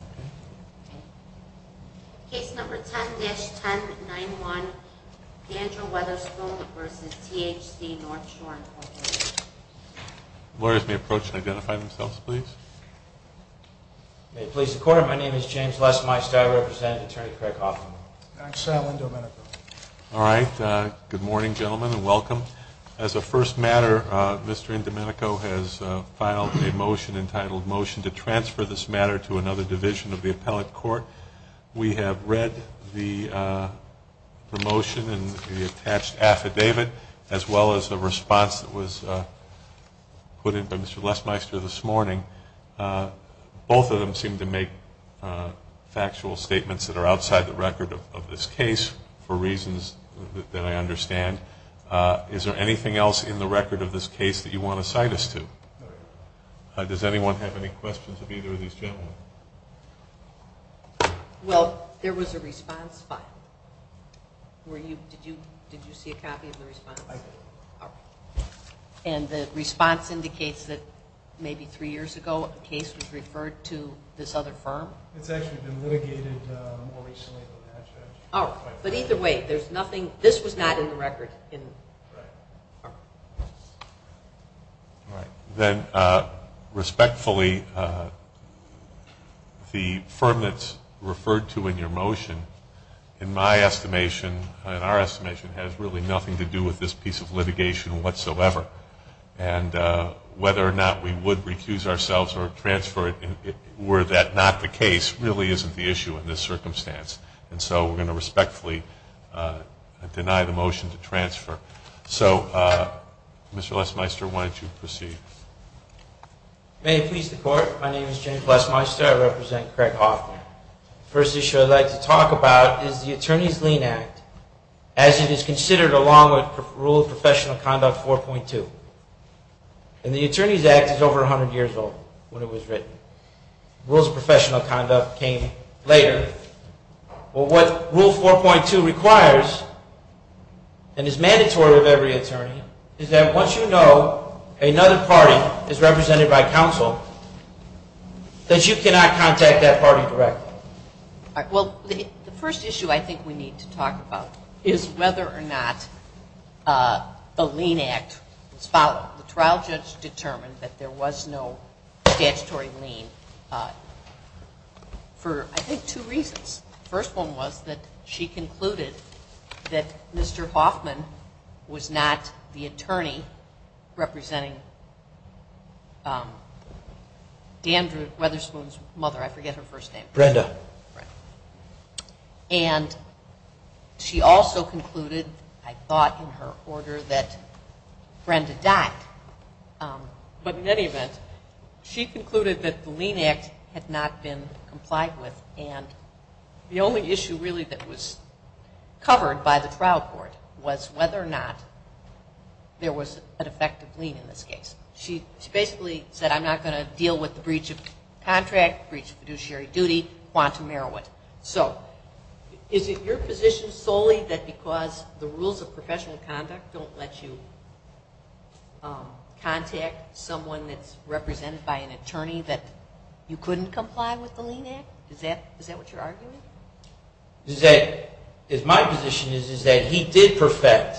May it please the Court, my name is James Lesmeistie. I represent Attorney Craig Hoffman. I'm Sal Indomenico. All right. Good morning, gentlemen, and welcome. As a first matter, Mr. Indomenico has filed a motion entitled, to transfer this matter to another division of the appellate court. We have read the motion and the attached affidavit, as well as the response that was put in by Mr. Lesmeister this morning. Both of them seem to make factual statements that are outside the record of this case for reasons that I understand. Is there anything else in the record of this case that you want to cite us to? Does anyone have any questions of either of these gentlemen? Well, there was a response filed. Did you see a copy of the response? I did. All right. And the response indicates that maybe three years ago a case was referred to this other firm? It's actually been litigated more recently than that, Judge. All right. But either way, there's nothing, this was not in the record. All right. Then, respectfully, the firm that's referred to in your motion, in my estimation, in our estimation, has really nothing to do with this piece of litigation whatsoever. And whether or not we would recuse ourselves or transfer it, were that not the case, really isn't the issue in this circumstance. And so we're going to respectfully deny the motion to transfer So Mr. Lesmeister, why don't you proceed? May it please the Court. My name is James Lesmeister. I represent Craig Hoffman. The first issue I'd like to talk about is the Attorney's Lien Act as it is considered along with Rule of Professional Conduct 4.2. And the Attorney's Act is over 100 years old when it was written. Rules of Professional Conduct came later. But what Rule 4.2 requires and is mandatory of every attorney is that once you know another party is represented by counsel, that you cannot contact that party directly. All right. Well, the first issue I think we need to talk about is whether or not the trial judge determined that there was no statutory lien for, I think, two reasons. The first one was that she concluded that Mr. Hoffman was not the attorney representing Andrew Weatherspoon's mother. I forget her first name. Brenda. And she also concluded, I thought in her order, that Brenda died. But in any event, she concluded that the lien act had not been complied with. And the only issue really that was covered by the trial court was whether or not there was an effective lien in this case. She basically said I'm not going to deal with the breach of contract, breach of fiduciary duty, quantum meriwit. So is it your position solely that because of the rules of professional conduct don't let you contact someone that's represented by an attorney that you couldn't comply with the lien act? Is that what you're arguing? My position is that he did perfect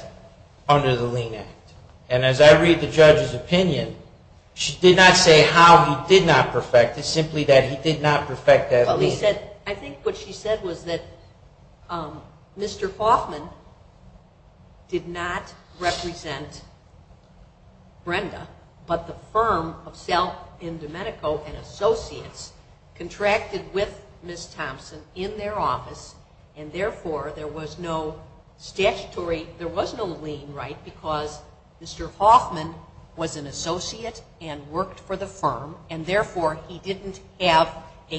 under the lien act. And as I read the judge's opinion, she did not say how he did not perfect that lien. I think what she said was that Mr. Hoffman did not represent Brenda, but the firm of Selk in Domenico and Associates contracted with Ms. Thompson in their office, and therefore there was no statutory, there was no lien right because Mr. Hoffman was an attorney, and there was no statutory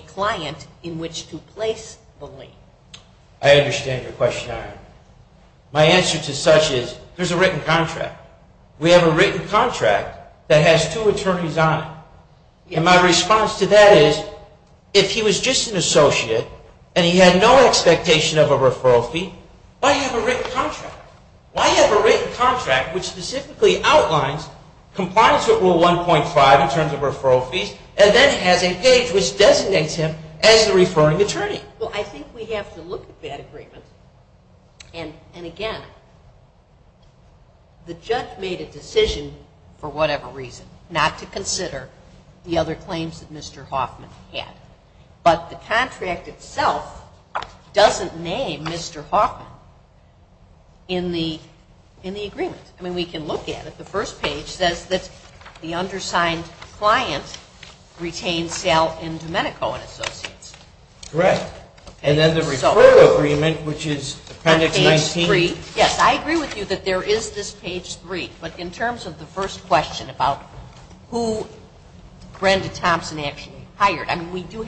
client in which to place the lien. I understand your question. My answer to such is there's a written contract. We have a written contract that has two attorneys on it. And my response to that is if he was just an associate and he had no expectation of a referral fee, why have a written contract? Why have a written contract which specifically outlines compliance with Rule 1.5 in terms of referral fees and then has a page which designates him as the referring attorney? Well, I think we have to look at that agreement. And again, the judge made a decision for whatever reason, not to consider the other claims that Mr. Hoffman had. But the contract itself doesn't name Mr. Hoffman in the agreement. I mean, we can look at it. The first page says that the undersigned client retained Selk in Domenico and Associates. Correct. And then the referral agreement, which is Appendix 19. On page 3. Yes, I agree with you that there is this page 3. But in terms of the first question about who Brenda Thompson actually hired, I think the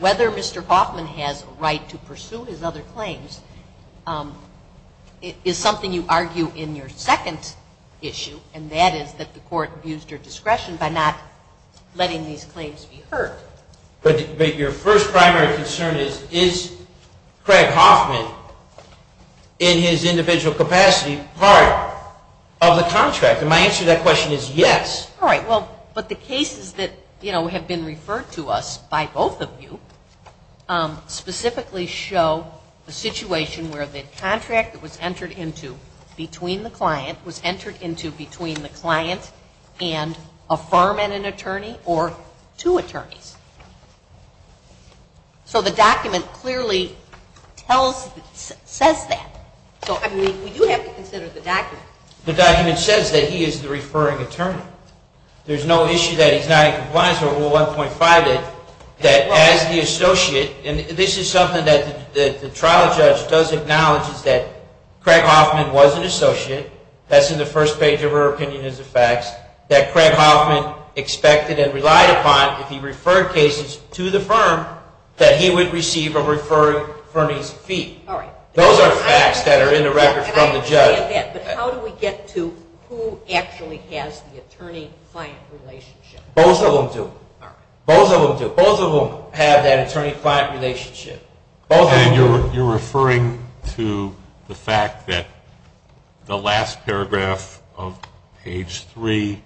other Mr. Hoffman has a right to pursue his other claims is something you argue in your second issue, and that is that the court abused her discretion by not letting these claims be heard. But your first primary concern is, is Craig Hoffman in his individual capacity part of the contract? And my answer to that question is yes. All right. Well, but the cases that, you know, have been referred to us by both of you are specifically show a situation where the contract that was entered into between the client was entered into between the client and a firm and an attorney or two attorneys. So the document clearly tells, says that. So, I mean, we do have to consider the document. The document says that he is the referring attorney. There's no issue that he's not in compliance with Rule 1.5 that as the Associates and this is something that the trial judge does acknowledge is that Craig Hoffman was an Associate, that's in the first page of her opinion as a fact, that Craig Hoffman expected and relied upon if he referred cases to the firm that he would receive a referring attorney's fee. All right. Those are facts that are in the record from the judge. But how do we get to who actually has the attorney-client relationship? Both of them do. Both of them do. Both of them have that attorney-client relationship. Both of them do. And you're referring to the fact that the last paragraph of page 3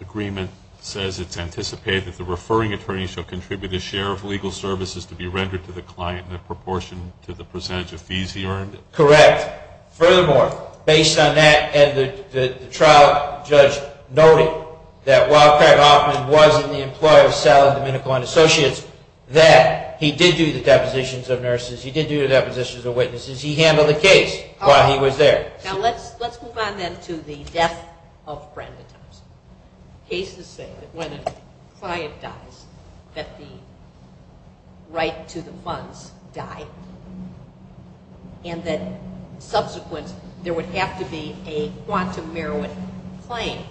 agreement says it's anticipated that the referring attorney shall contribute a share of legal services to be rendered to the client in proportion to the percentage of fees he earned? Correct. Furthermore, based on that, and the trial judge noted that while Craig Hoffman was in the employer of Salad, Domenico, and Associates, that he did do the depositions of nurses, he did do the depositions of witnesses, he handled the case while he was there. Now let's move on then to the death of Brenda Thompson. Cases say that when a client dies that the right to the funds die and that the subsequent there would have to be a quantum merit claim.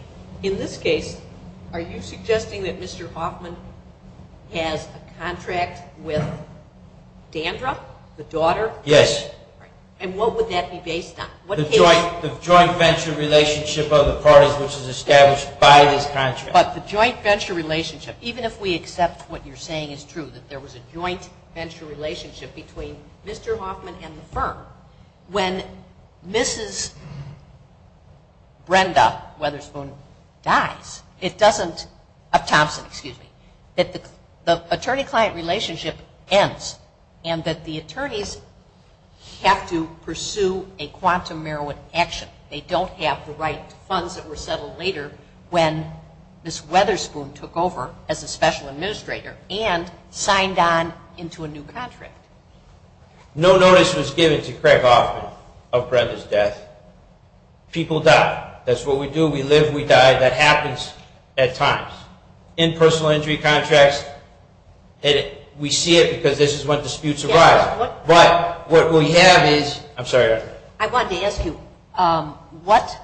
In this case, are you suggesting that Mr. Hoffman has a contract with Dandra, the daughter? Yes. And what would that be based on? The joint venture relationship of the parties which is established by this contract. But the joint venture relationship, even if we accept what you're saying is true, that there was a joint venture relationship between Mr. Hoffman and the client. When Mrs. Brenda Weatherspoon dies, it doesn't, of Thompson, excuse me, that the attorney-client relationship ends and that the attorneys have to pursue a quantum merit action. They don't have the right funds that were settled later when Ms. Weatherspoon took over as a client. When Mr. Hoffman, of Brenda's death, people die. That's what we do. We live, we die. That happens at times. In personal injury contracts, we see it because this is when disputes arise. But what we have is, I'm sorry. I wanted to ask you, what,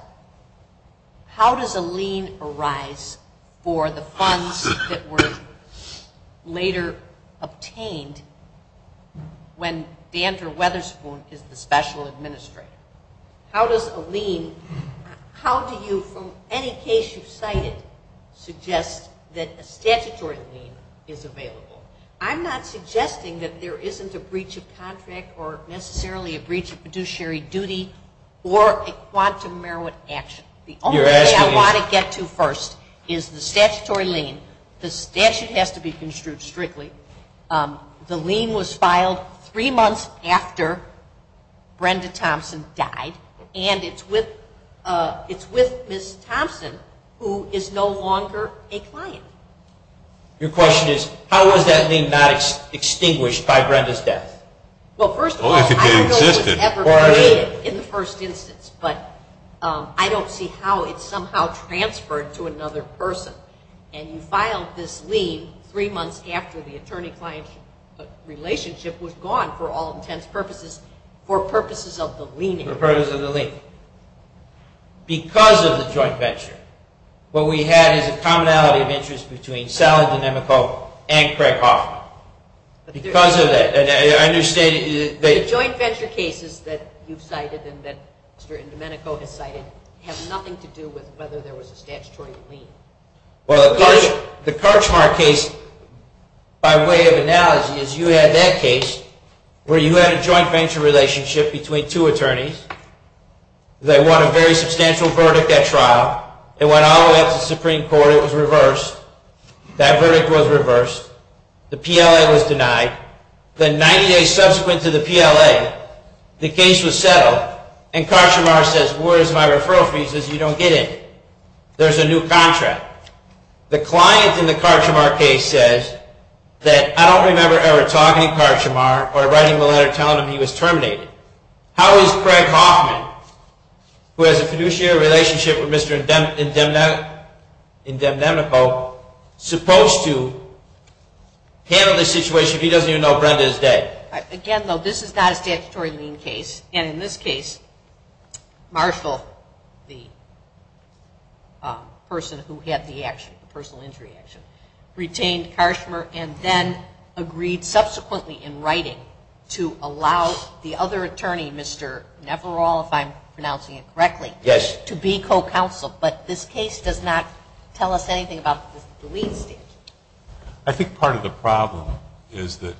how does a lien arise for the funds that were later obtained when Dandra Weatherspoon is the specialist? How does a lien arise for the funds that were later obtained when Dandra Weatherspoon is the special administrator? How does a lien, how do you, from any case you've cited, suggest that a statutory lien is available? I'm not suggesting that there isn't a breach of contract or necessarily a breach of fiduciary duty or a quantum merit action. The only thing I want to get to first is the statutory lien. The statute has to be construed strictly. The lien was filed three months after Brenda Thompson died, and it's with Ms. Thompson, who is no longer a client. Your question is, how was that lien not extinguished by Brenda's death? Well, first of all, I don't know if it was ever created in the first instance, but I don't see how it somehow transferred to another person. And you filed this lien three months after the attorney-client relationship was gone for all intents and purposes for purposes of the lien. Because of the joint venture, what we had is a commonality of interest between Sally Domenico and Craig Hoffman. The joint venture cases that you've cited and that Mr. Domenico has cited have nothing to do with whether there was a statutory lien. Well, the Karchmar case, by way of analogy, is you had that case where you had a joint venture relationship between two attorneys. They won a very substantial verdict at trial. It went all the way up to the Supreme Court. It was reversed. That verdict was reversed. The PLA was denied. Then 90 days subsequent to the PLA, the case was settled, and Karchmar says, where is my referral fees? He says, you don't get it. There's a new contract. The client in the Karchmar case says that I don't remember ever talking to Karchmar or writing the letter telling him he was terminated. How is Craig Hoffman, who has a fiduciary relationship with Mr. Domenico, supposed to handle the situation if he doesn't even know Brenda is dead? Again, though, this is not a statutory lien case. And in this case, Marshall, the person who had the action, the personal injury action, retained Karchmar and then agreed subsequently in writing to allow the other attorney, Mr. Neferal, if I'm pronouncing it correctly, to be co-counsel. But this case does not tell us anything about the lien statute. I think part of the problem is that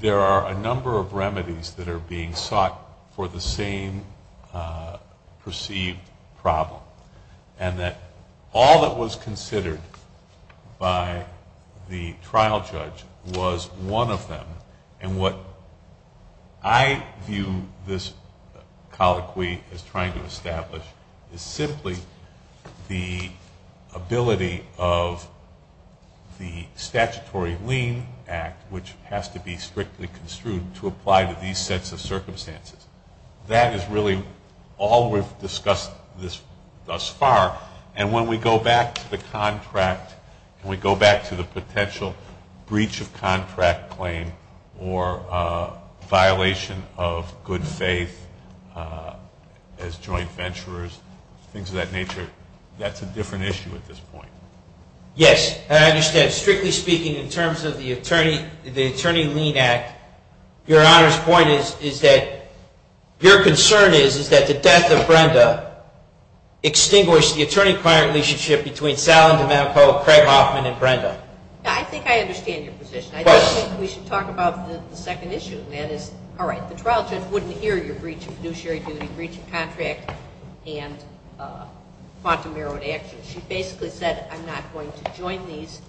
there are a number of remedies that are being sought for the same perceived problem. And that all that was considered by the trial court in the Karchmar case, the trial judge, was one of them. And what I view this colloquy as trying to establish is simply the ability of the statutory lien act, which has to be strictly construed to apply to these sets of circumstances. That is really all we've discussed thus far. And when we go back to the contract, when we go back to the potential breach of contract claim or violation of good faith as joint venturers, things of that nature, that's a different issue at this point. Yes. I understand. Strictly speaking, in terms of the Attorney Lien Act, Your Honor's point is that your concern is that the death of Brenda extinguished the attorney-client relationship between Salin, DeMantle, Craig Hoffman, and Brenda. I think I understand your position. I think we should talk about the second issue, and that is, all right, the trial judge wouldn't hear your breach of fiduciary duty, breach of contract, and quantum merit action. She basically said, I'm not going to join these.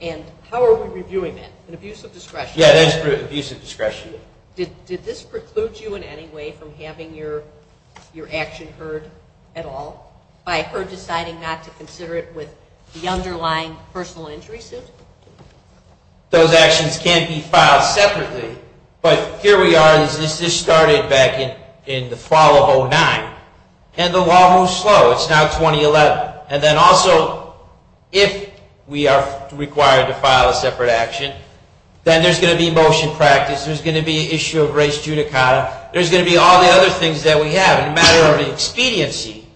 And how are we going to do that? Yeah, that's abuse of discretion. Did this preclude you in any way from having your action heard at all by her deciding not to consider it with the underlying personal injury suit? Those actions can't be filed separately. But here we are, this just started back in the fall of 2009, and the law moves slow. It's now going to be motion practice. There's going to be an issue of res judicata. There's going to be all the other things that we have. In a matter of expediency,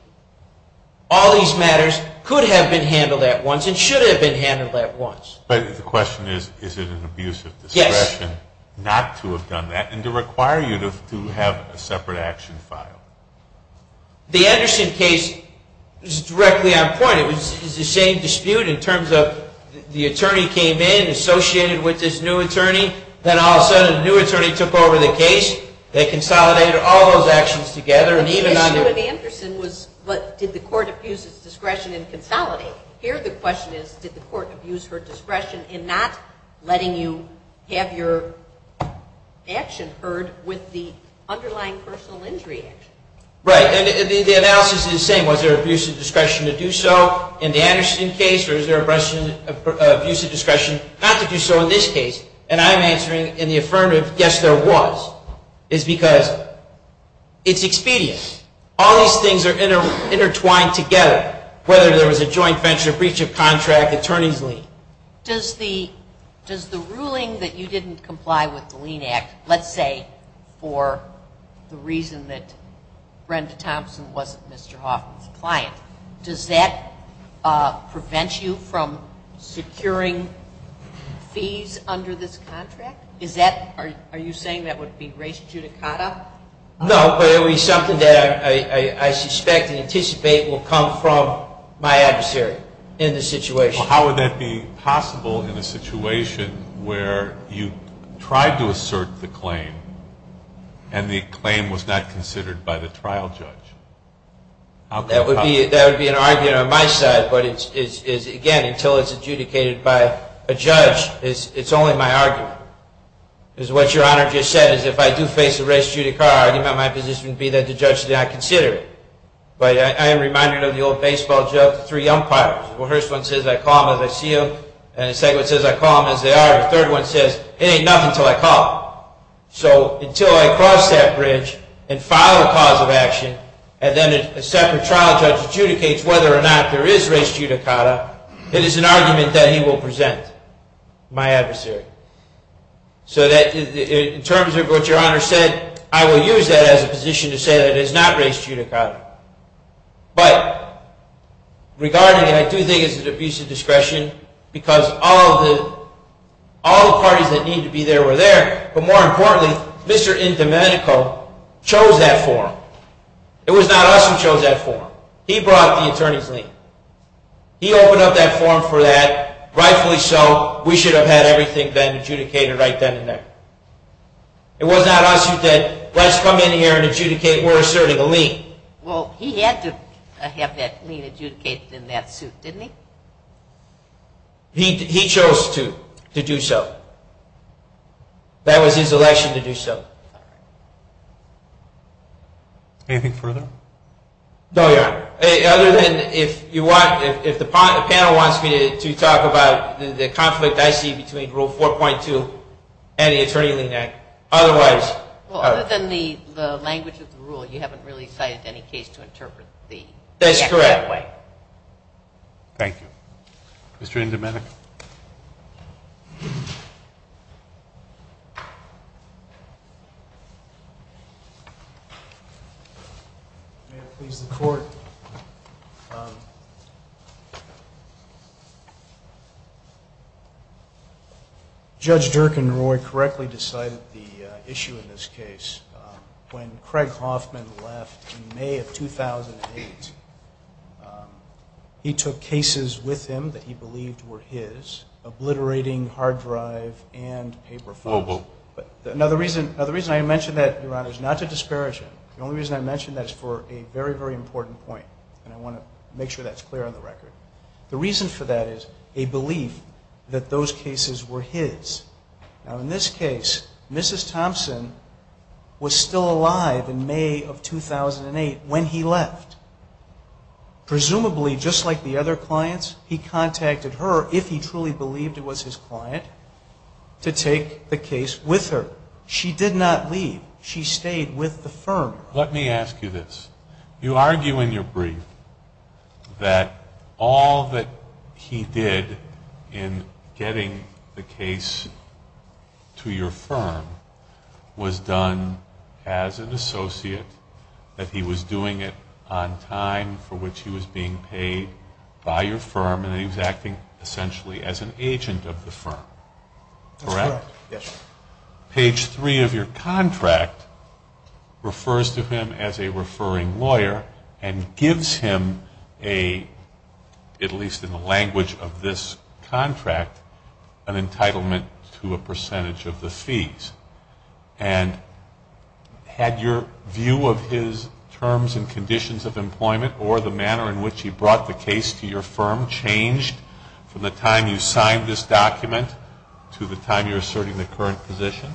all these matters could have been handled at once and should have been handled at once. But the question is, is it an abuse of discretion not to have done that and to require you to have a separate action filed? The Anderson case is directly on point. It's the same dispute in terms of the attorney came in, associated with this new attorney, then all of a sudden a new attorney took over the case. They consolidated all those actions together. But the issue with Anderson was, did the court abuse its discretion and consolidate? Here the question is, did the court abuse her discretion in not letting you have your action heard with the underlying personal injury action? Right. And the analysis is the same. Was there abuse of discretion to do so in the Anderson case, or is there abuse of discretion not to do so in this case? And I'm answering in the affirmative, yes, there was. It's because it's expedient. All these things are intertwined together, whether there was a joint venture, breach of contract, attorney's lien. Does the ruling that you didn't comply with the lien act, let's say for the reason that Brenda Thompson wasn't Mr. Hoffman's client, does that prevent you from securing fees under this contract? Is that, are you saying that would be res judicata? No, but it would be something that I suspect and anticipate will come from my adversary in this situation. Well, how would that be possible in a situation where you tried to assert the claim and the claim was not considered by the trial judge? That would be an argument on my side, but again, until it's adjudicated by a judge, it's only my argument. Because what your Honor just said is if I do face a res judicata argument, my position would be that the judge did not consider it. But I am reminded of the old baseball joke, the three umpires. The first one says I call them as I see them, and the second one says I call them as they are, and the third one says it ain't nothing until I call. So until I cross that bridge and file a cause of action, and then a separate trial judge adjudicates whether or not there is res judicata, it is an argument that he will present, my adversary. So in terms of what your Honor said, I will use that as a position to say that it is not res judicata. But regarding it, I do think it's an abuse of discretion because all the parties that needed to be there were there, but more importantly, Mr. Indomenico chose that forum. It was not us who chose that forum. He brought the attorney's lien. He opened up that forum for that, rightfully so. We should have had everything been adjudicated right then and there. It was not us who said let's come in here and adjudicate, we're asserting a lien. Well, he had to have that lien adjudicated in that suit, didn't he? He chose to do so. That was his election to do so. Anything further? No, Your Honor. Other than if the panel wants me to talk about the conflict I see between Rule 4.2 and the Attorney-Lean Act. Other than the language of the rule, you haven't really cited any case to interpret the Act that way. That's correct. Thank you. Mr. Indomenico. May it please the Court. Judge Indomenico, after Mr. Thompson left in May of 2008, he took cases with him that he believed were his, obliterating hard drive and paper files. Now, the reason I mention that, Your Honor, is not to disparage him. The only reason I mention that is for a very, very important point and I want to make sure that's clear on the record. The reason for that is a belief that those cases were his. Now, in this case, Mrs. Thompson was still alive in May of 2008 when he left. Presumably, just like the other clients, he contacted her, if he truly believed it was his client, to take the case with her. She did not leave. She stayed with the firm. Let me ask you this. You argue in your brief that all that he did in getting the case to your firm was done as an associate, that he was doing it on time for which he was being paid by your firm and he was acting essentially as an agent of the firm. That's correct. Correct? Yes. Page 3 of your contract refers to him as a referring lawyer and gives him a, at the end of this contract, an entitlement to a percentage of the fees. And had your view of his terms and conditions of employment or the manner in which he brought the case to your firm changed from the time you signed this document to the time you're asserting the current position?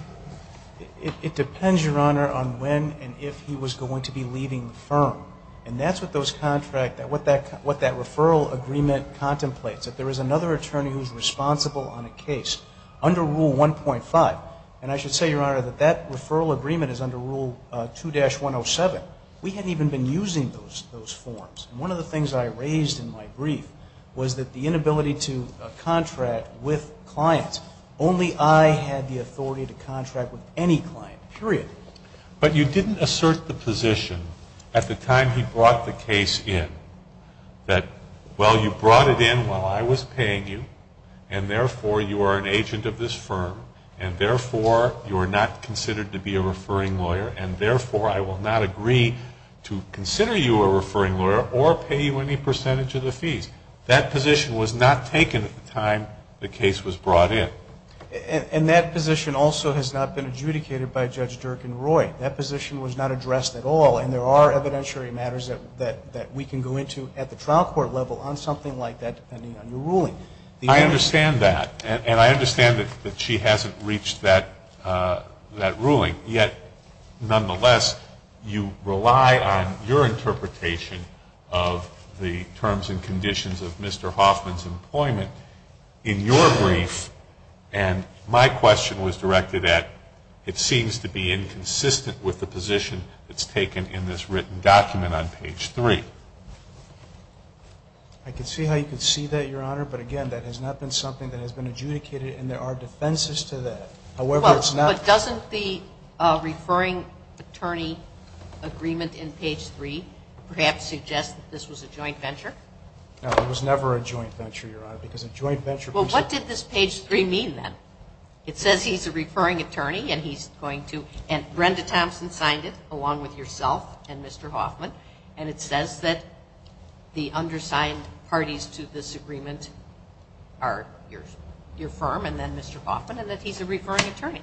It depends, Your Honor, on when and if he was going to be leaving the firm. And that's what those contracts, what that referral agreement contemplates, that there is another attorney who's responsible on a case under Rule 1.5. And I should say, Your Honor, that that referral agreement is under Rule 2-107. We hadn't even been using those forms. And one of the things I raised in my brief was that the inability to contract with clients. Only I had the authority to contract with any client, period. But you didn't assert the position at the time he brought the case in that, well, you brought it in while I was paying you. And therefore, you are an agent of this firm. And therefore, you are not considered to be a referring lawyer. And therefore, I will not agree to consider you a referring lawyer or pay you any percentage of the fees. That position was not taken at the time the case was brought in. And that position also has not been adjudicated by Judge Dirk and Roy. That position was not addressed at all. And there are evidentiary matters that we can go into at the trial court level on something like that, depending on your ruling. I understand that. And I understand that she hasn't reached that ruling. Yet, nonetheless, you rely on your interpretation of the terms and conditions of Mr. Hoffman's employment in your brief. And my question was directed at, it seems to be inconsistent with the position that's being made in this written document on page 3. I can see how you can see that, Your Honor. But again, that has not been something that has been adjudicated. And there are defenses to that. However, it's not – Well, but doesn't the referring attorney agreement in page 3 perhaps suggest that this was a joint venture? No, it was never a joint venture, Your Honor, because a joint venture – And it says that the undersigned parties to this agreement are your firm and then Mr. Hoffman, and that he's a referring attorney.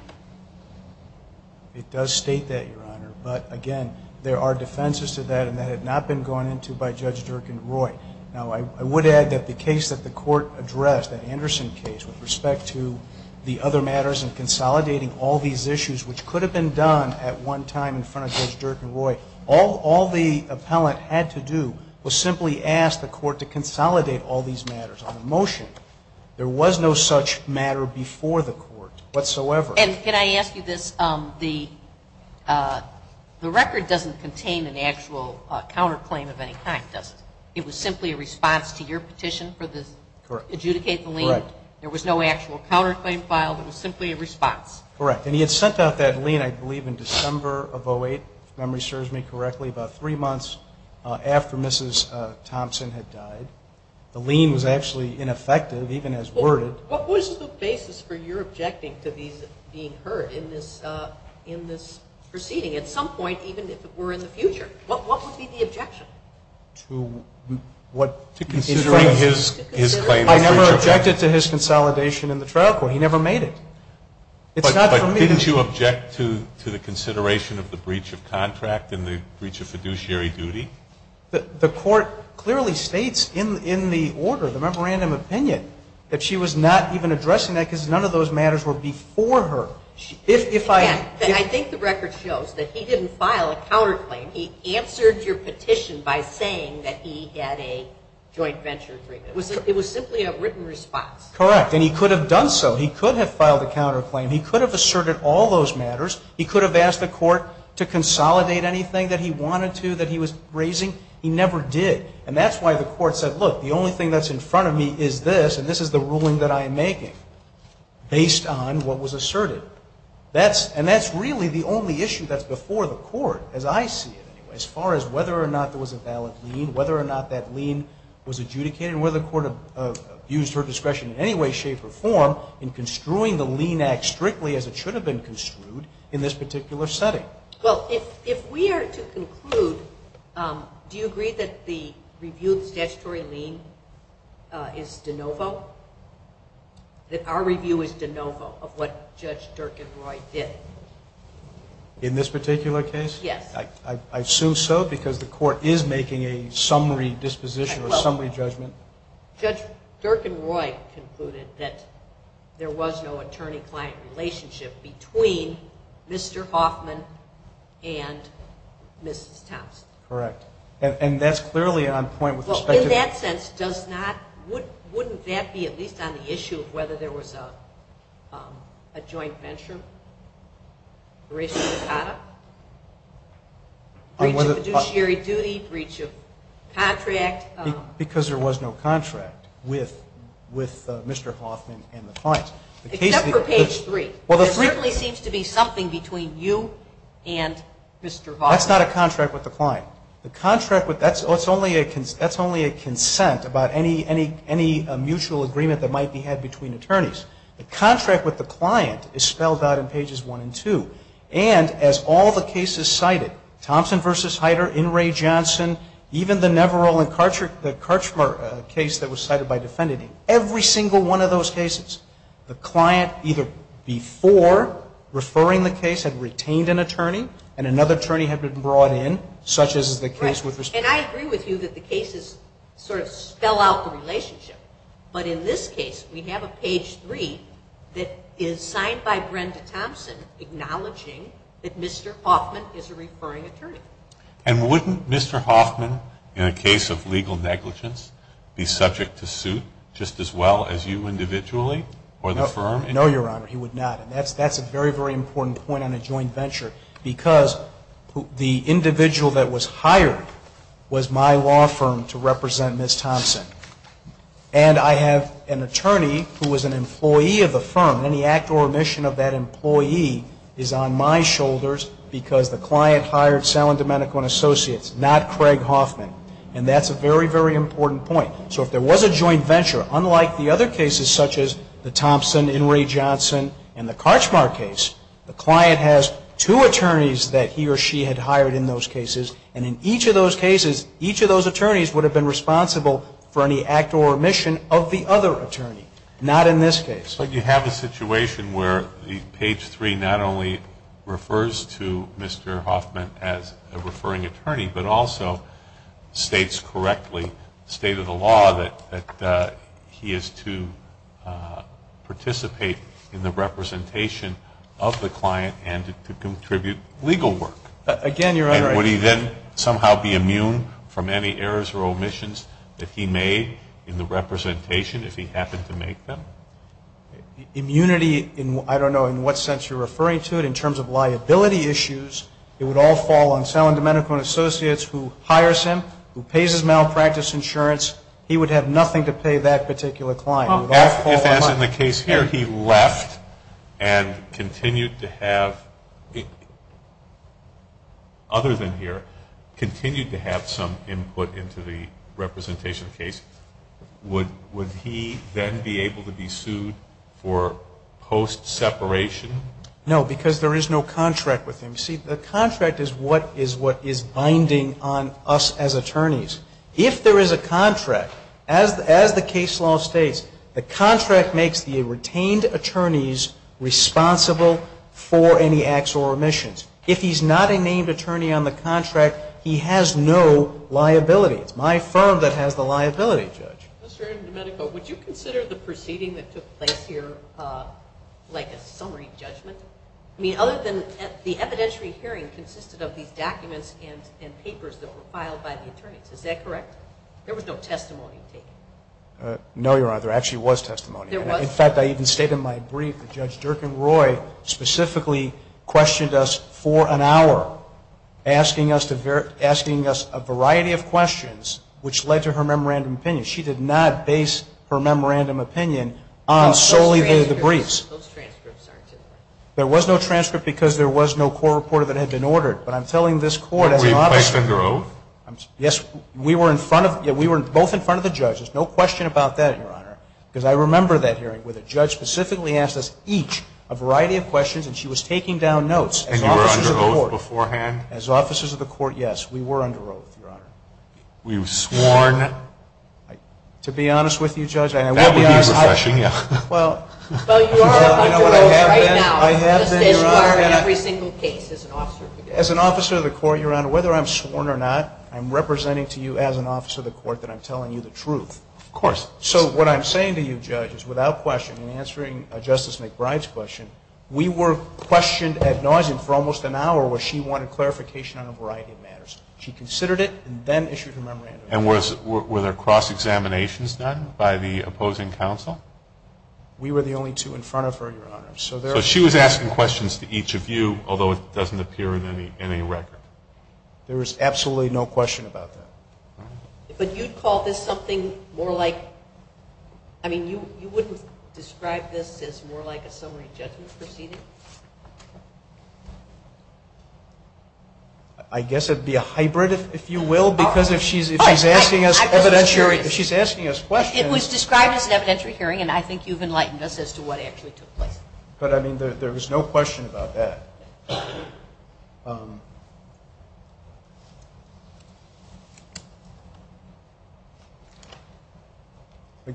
It does state that, Your Honor. But again, there are defenses to that, and that had not been gone into by Judge Dirk and Roy. Now, I would add that the case that the Court addressed, that Anderson case, with respect to the other matters and consolidating all these All the appellant had to do was simply ask the Court to consolidate all these matters on a motion. There was no such matter before the Court whatsoever. And can I ask you this? The record doesn't contain an actual counterclaim of any kind, does it? It was simply a response to your petition for the – Correct. Adjudicate the lien. Correct. There was no actual counterclaim filed. It was simply a response. Correct. And he had sent out that lien, I believe, in December of 2008, if memory serves me correctly, about three months after Mrs. Thompson had died. The lien was actually ineffective, even as worded. What was the basis for your objecting to these being heard in this proceeding, at some point, even if it were in the future? What would be the objection? To what? To considering his claim. I never objected to his consolidation in the trial court. He never made it. But didn't you object to the consideration of the breach of contract and the breach of fiduciary duty? The Court clearly states in the order, the memorandum of opinion, that she was not even addressing that because none of those matters were before her. I think the record shows that he didn't file a counterclaim. He answered your petition by saying that he had a joint venture agreement. It was simply a written response. Correct. And he could have done so. He could have filed a counterclaim. He could have asserted all those matters. He could have asked the Court to consolidate anything that he wanted to, that he was raising. He never did. And that's why the Court said, look, the only thing that's in front of me is this, and this is the ruling that I am making, based on what was asserted. And that's really the only issue that's before the Court, as I see it, as far as whether or not there was a valid lien, whether or not that lien was adjudicated, and whether the Court abused her discretion in any way, shape, or form in construing the lien act strictly as it should have been construed in this particular setting. Well, if we are to conclude, do you agree that the review of the statutory lien is de novo? That our review is de novo of what Judge Dirk and Roy did? In this particular case? Yes. I assume so, because the Court is making a summary disposition or summary judgment. Judge Dirk and Roy concluded that there was no attorney-client relationship between Mr. Hoffman and Mrs. Thompson. Correct. And that's clearly on point with respect to the ---- Breach of fiduciary duty, breach of contract. Because there was no contract with Mr. Hoffman and the client. Except for page 3. There certainly seems to be something between you and Mr. Hoffman. That's not a contract with the client. That's only a consent about any mutual agreement that might be had between attorneys. The contract with the client is spelled out in pages 1 and 2. And as all the cases cited, Thompson v. Heider, In re, Johnson, even the Neverell and Karchmer case that was cited by defendant, every single one of those cases, the client either before referring the case had retained an attorney, and another attorney had been brought in, such as the case with respect to ---- And I agree with you that the cases sort of spell out the relationship. But in this case, we have a page 3 that is signed by Brenda Thompson acknowledging that Mr. Hoffman is a referring attorney. And wouldn't Mr. Hoffman, in a case of legal negligence, be subject to suit just as well as you individually or the firm? No, Your Honor, he would not. And that's a very, very important point on a joint venture. Because the individual that was hired was my law firm to represent Ms. Thompson. And I have an attorney who was an employee of the firm. Any act or omission of that employee is on my shoulders because the client hired Salen Domenico and Associates, not Craig Hoffman. And that's a very, very important point. So if there was a joint venture, unlike the other cases such as the Thompson, In re, Johnson, and the Karchmer case, the client has two attorneys that he or she had hired in those cases. And in each of those cases, each of those attorneys would have been responsible for any act or omission of the other attorney. Not in this case. But you have a situation where the page 3 not only refers to Mr. Hoffman as a referring attorney, but also states correctly, state of the law, that he is to participate in the representation of the client and to contribute legal work. Again, Your Honor. And would he then somehow be immune from any errors or omissions that he made in the representation if he happened to make them? Immunity, I don't know in what sense you're referring to it. In terms of liability issues, it would all fall on Salen Domenico and Associates who hires him, who pays his malpractice insurance. He would have nothing to pay that particular client. If, as in the case here, he left and continued to have, other than here, continued to have some input into the representation case, would he then be able to be sued for post-separation? No, because there is no contract with him. You see, the contract is what is binding on us as attorneys. If there is a contract, as the case law states, the contract makes the retained attorneys responsible for any acts or omissions. If he's not a named attorney on the contract, he has no liability. Mr. Domenico, would you consider the proceeding that took place here like a summary judgment? I mean, other than the evidentiary hearing consisted of these documents and papers that were filed by the attorneys. Is that correct? There was no testimony taken. No, Your Honor. There actually was testimony. There was? In fact, I even stated in my brief that Judge Durkin-Roy specifically questioned us for an hour, asking us a variety of questions, which led to her memorandum of opinion. She did not base her memorandum of opinion on solely the briefs. Those transcripts aren't in there. There was no transcript because there was no court report that had been ordered. But I'm telling this Court as an officer. Were you placed under oath? Yes. We were both in front of the judges. No question about that, Your Honor. Because I remember that hearing where the judge specifically asked us each a variety of questions, and she was taking down notes as officers of the court. And you were under oath beforehand? As officers of the court, yes, we were under oath, Your Honor. Were you sworn? To be honest with you, Judge, I would be honest. That would be refreshing, yes. Well, you are under oath right now. I have been, Your Honor. Just as you are in every single case as an officer. As an officer of the court, Your Honor, whether I'm sworn or not, I'm representing to you as an officer of the court that I'm telling you the truth. Of course. So what I'm saying to you, Judge, is without question, in answering Justice McBride's question, we were questioned ad nauseum for almost an hour where she wanted clarification on a variety of matters. She considered it and then issued her memorandum. And were there cross-examinations done by the opposing counsel? We were the only two in front of her, Your Honor. So she was asking questions to each of you, although it doesn't appear in any record? There is absolutely no question about that. But you'd call this something more like – I mean, you wouldn't describe this as more like a summary judgment proceeding? I guess it would be a hybrid, if you will, because if she's asking us evidentiary – I was just curious. If she's asking us questions. It was described as an evidentiary hearing, and I think you've enlightened us as to what actually took place. But, I mean, there was no question about that.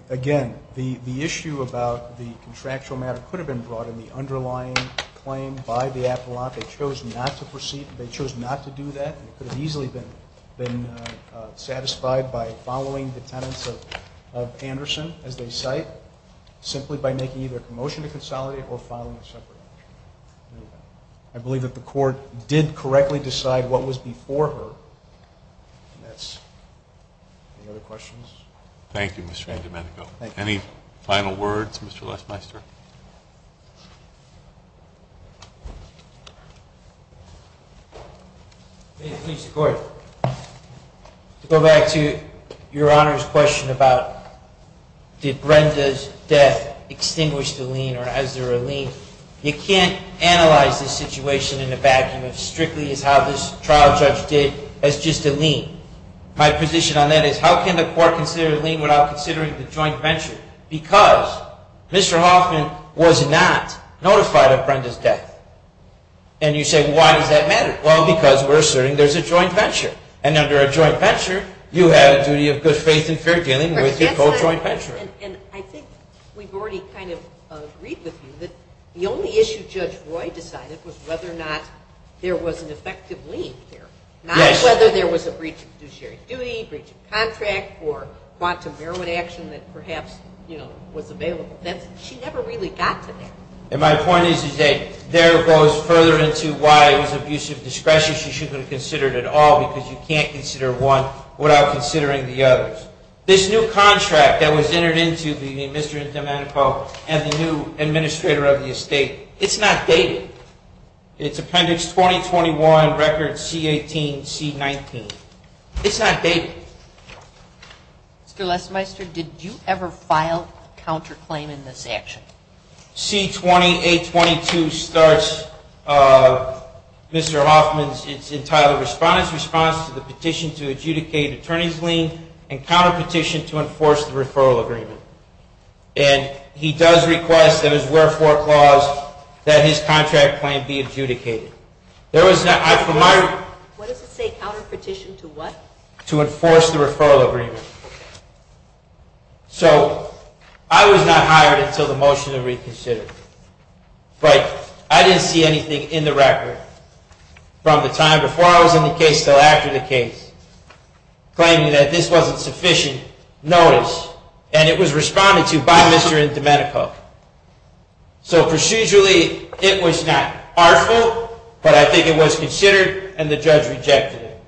Again, the issue about the contractual matter could have been brought in the underlying claim by the appellant. They chose not to proceed. They chose not to do that. It could have easily been satisfied by following the tenets of Anderson, as they cite, simply by making either a motion to consolidate or filing a separate motion. I believe that the Court did correctly decide what was before her. Any other questions? Thank you, Mr. Andomenico. Any final words, Mr. Lesmeister? To go back to Your Honor's question about did Brenda's death extinguish the lien or is there a lien? You can't analyze this situation in a vacuum as strictly as how this trial judge did, as just a lien. My position on that is, how can the Court consider a lien without considering the joint venture? Because Mr. Hoffman was not notified of Brenda's death. And you say, why does that matter? Well, because we're asserting there's a joint venture. And under a joint venture, you have a duty of good faith and fair dealing with your co-joint venture. And I think we've already kind of agreed with you that the only issue Judge Roy decided was whether or not there was an effective lien there, not whether there was a breach of fiduciary duty, breach of contract, or quantum heroin action that perhaps was available. She never really got to that. And my point is that there goes further into why it was abusive discretion. She shouldn't have considered it at all because you can't consider one without considering the others. This new contract that was entered into between Mr. Andomenico and the new administrator of the estate, it's not dated. It's Appendix 2021, Record C-18, C-19. It's not dated. Mr. Lesmeister, did you ever file a counterclaim in this action? C-2822 starts Mr. Hoffman's entitled response to the petition to adjudicate attorney's lien and counterpetition to enforce the referral agreement. And he does request that as wherefore clause that his contract claim be adjudicated. What does it say, counterpetition to what? To enforce the referral agreement. So I was not hired until the motion to reconsider. But I didn't see anything in the record from the time before I was in the case till after the case claiming that this wasn't sufficient notice and it was responded to by Mr. Andomenico. So procedurally, it was not harmful, but I think it was considered and the judge rejected it.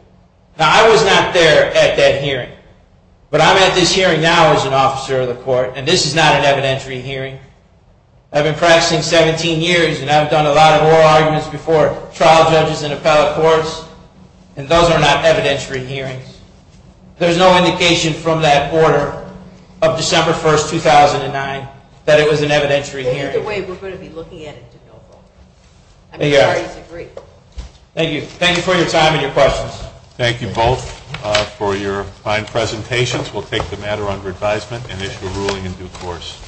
Now, I was not there at that hearing, but I'm at this hearing now as an officer of the court, and this is not an evidentiary hearing. I've been practicing 17 years, and I've done a lot of oral arguments before trial judges and appellate courts, and those are not evidentiary hearings. There's no indication from that order of December 1, 2009, that it was an evidentiary hearing. That's the way we're going to be looking at it. I mean, the parties agree. Thank you. Thank you for your time and your questions. Thank you both for your fine presentations. We'll take the matter under advisement and issue a ruling in due course.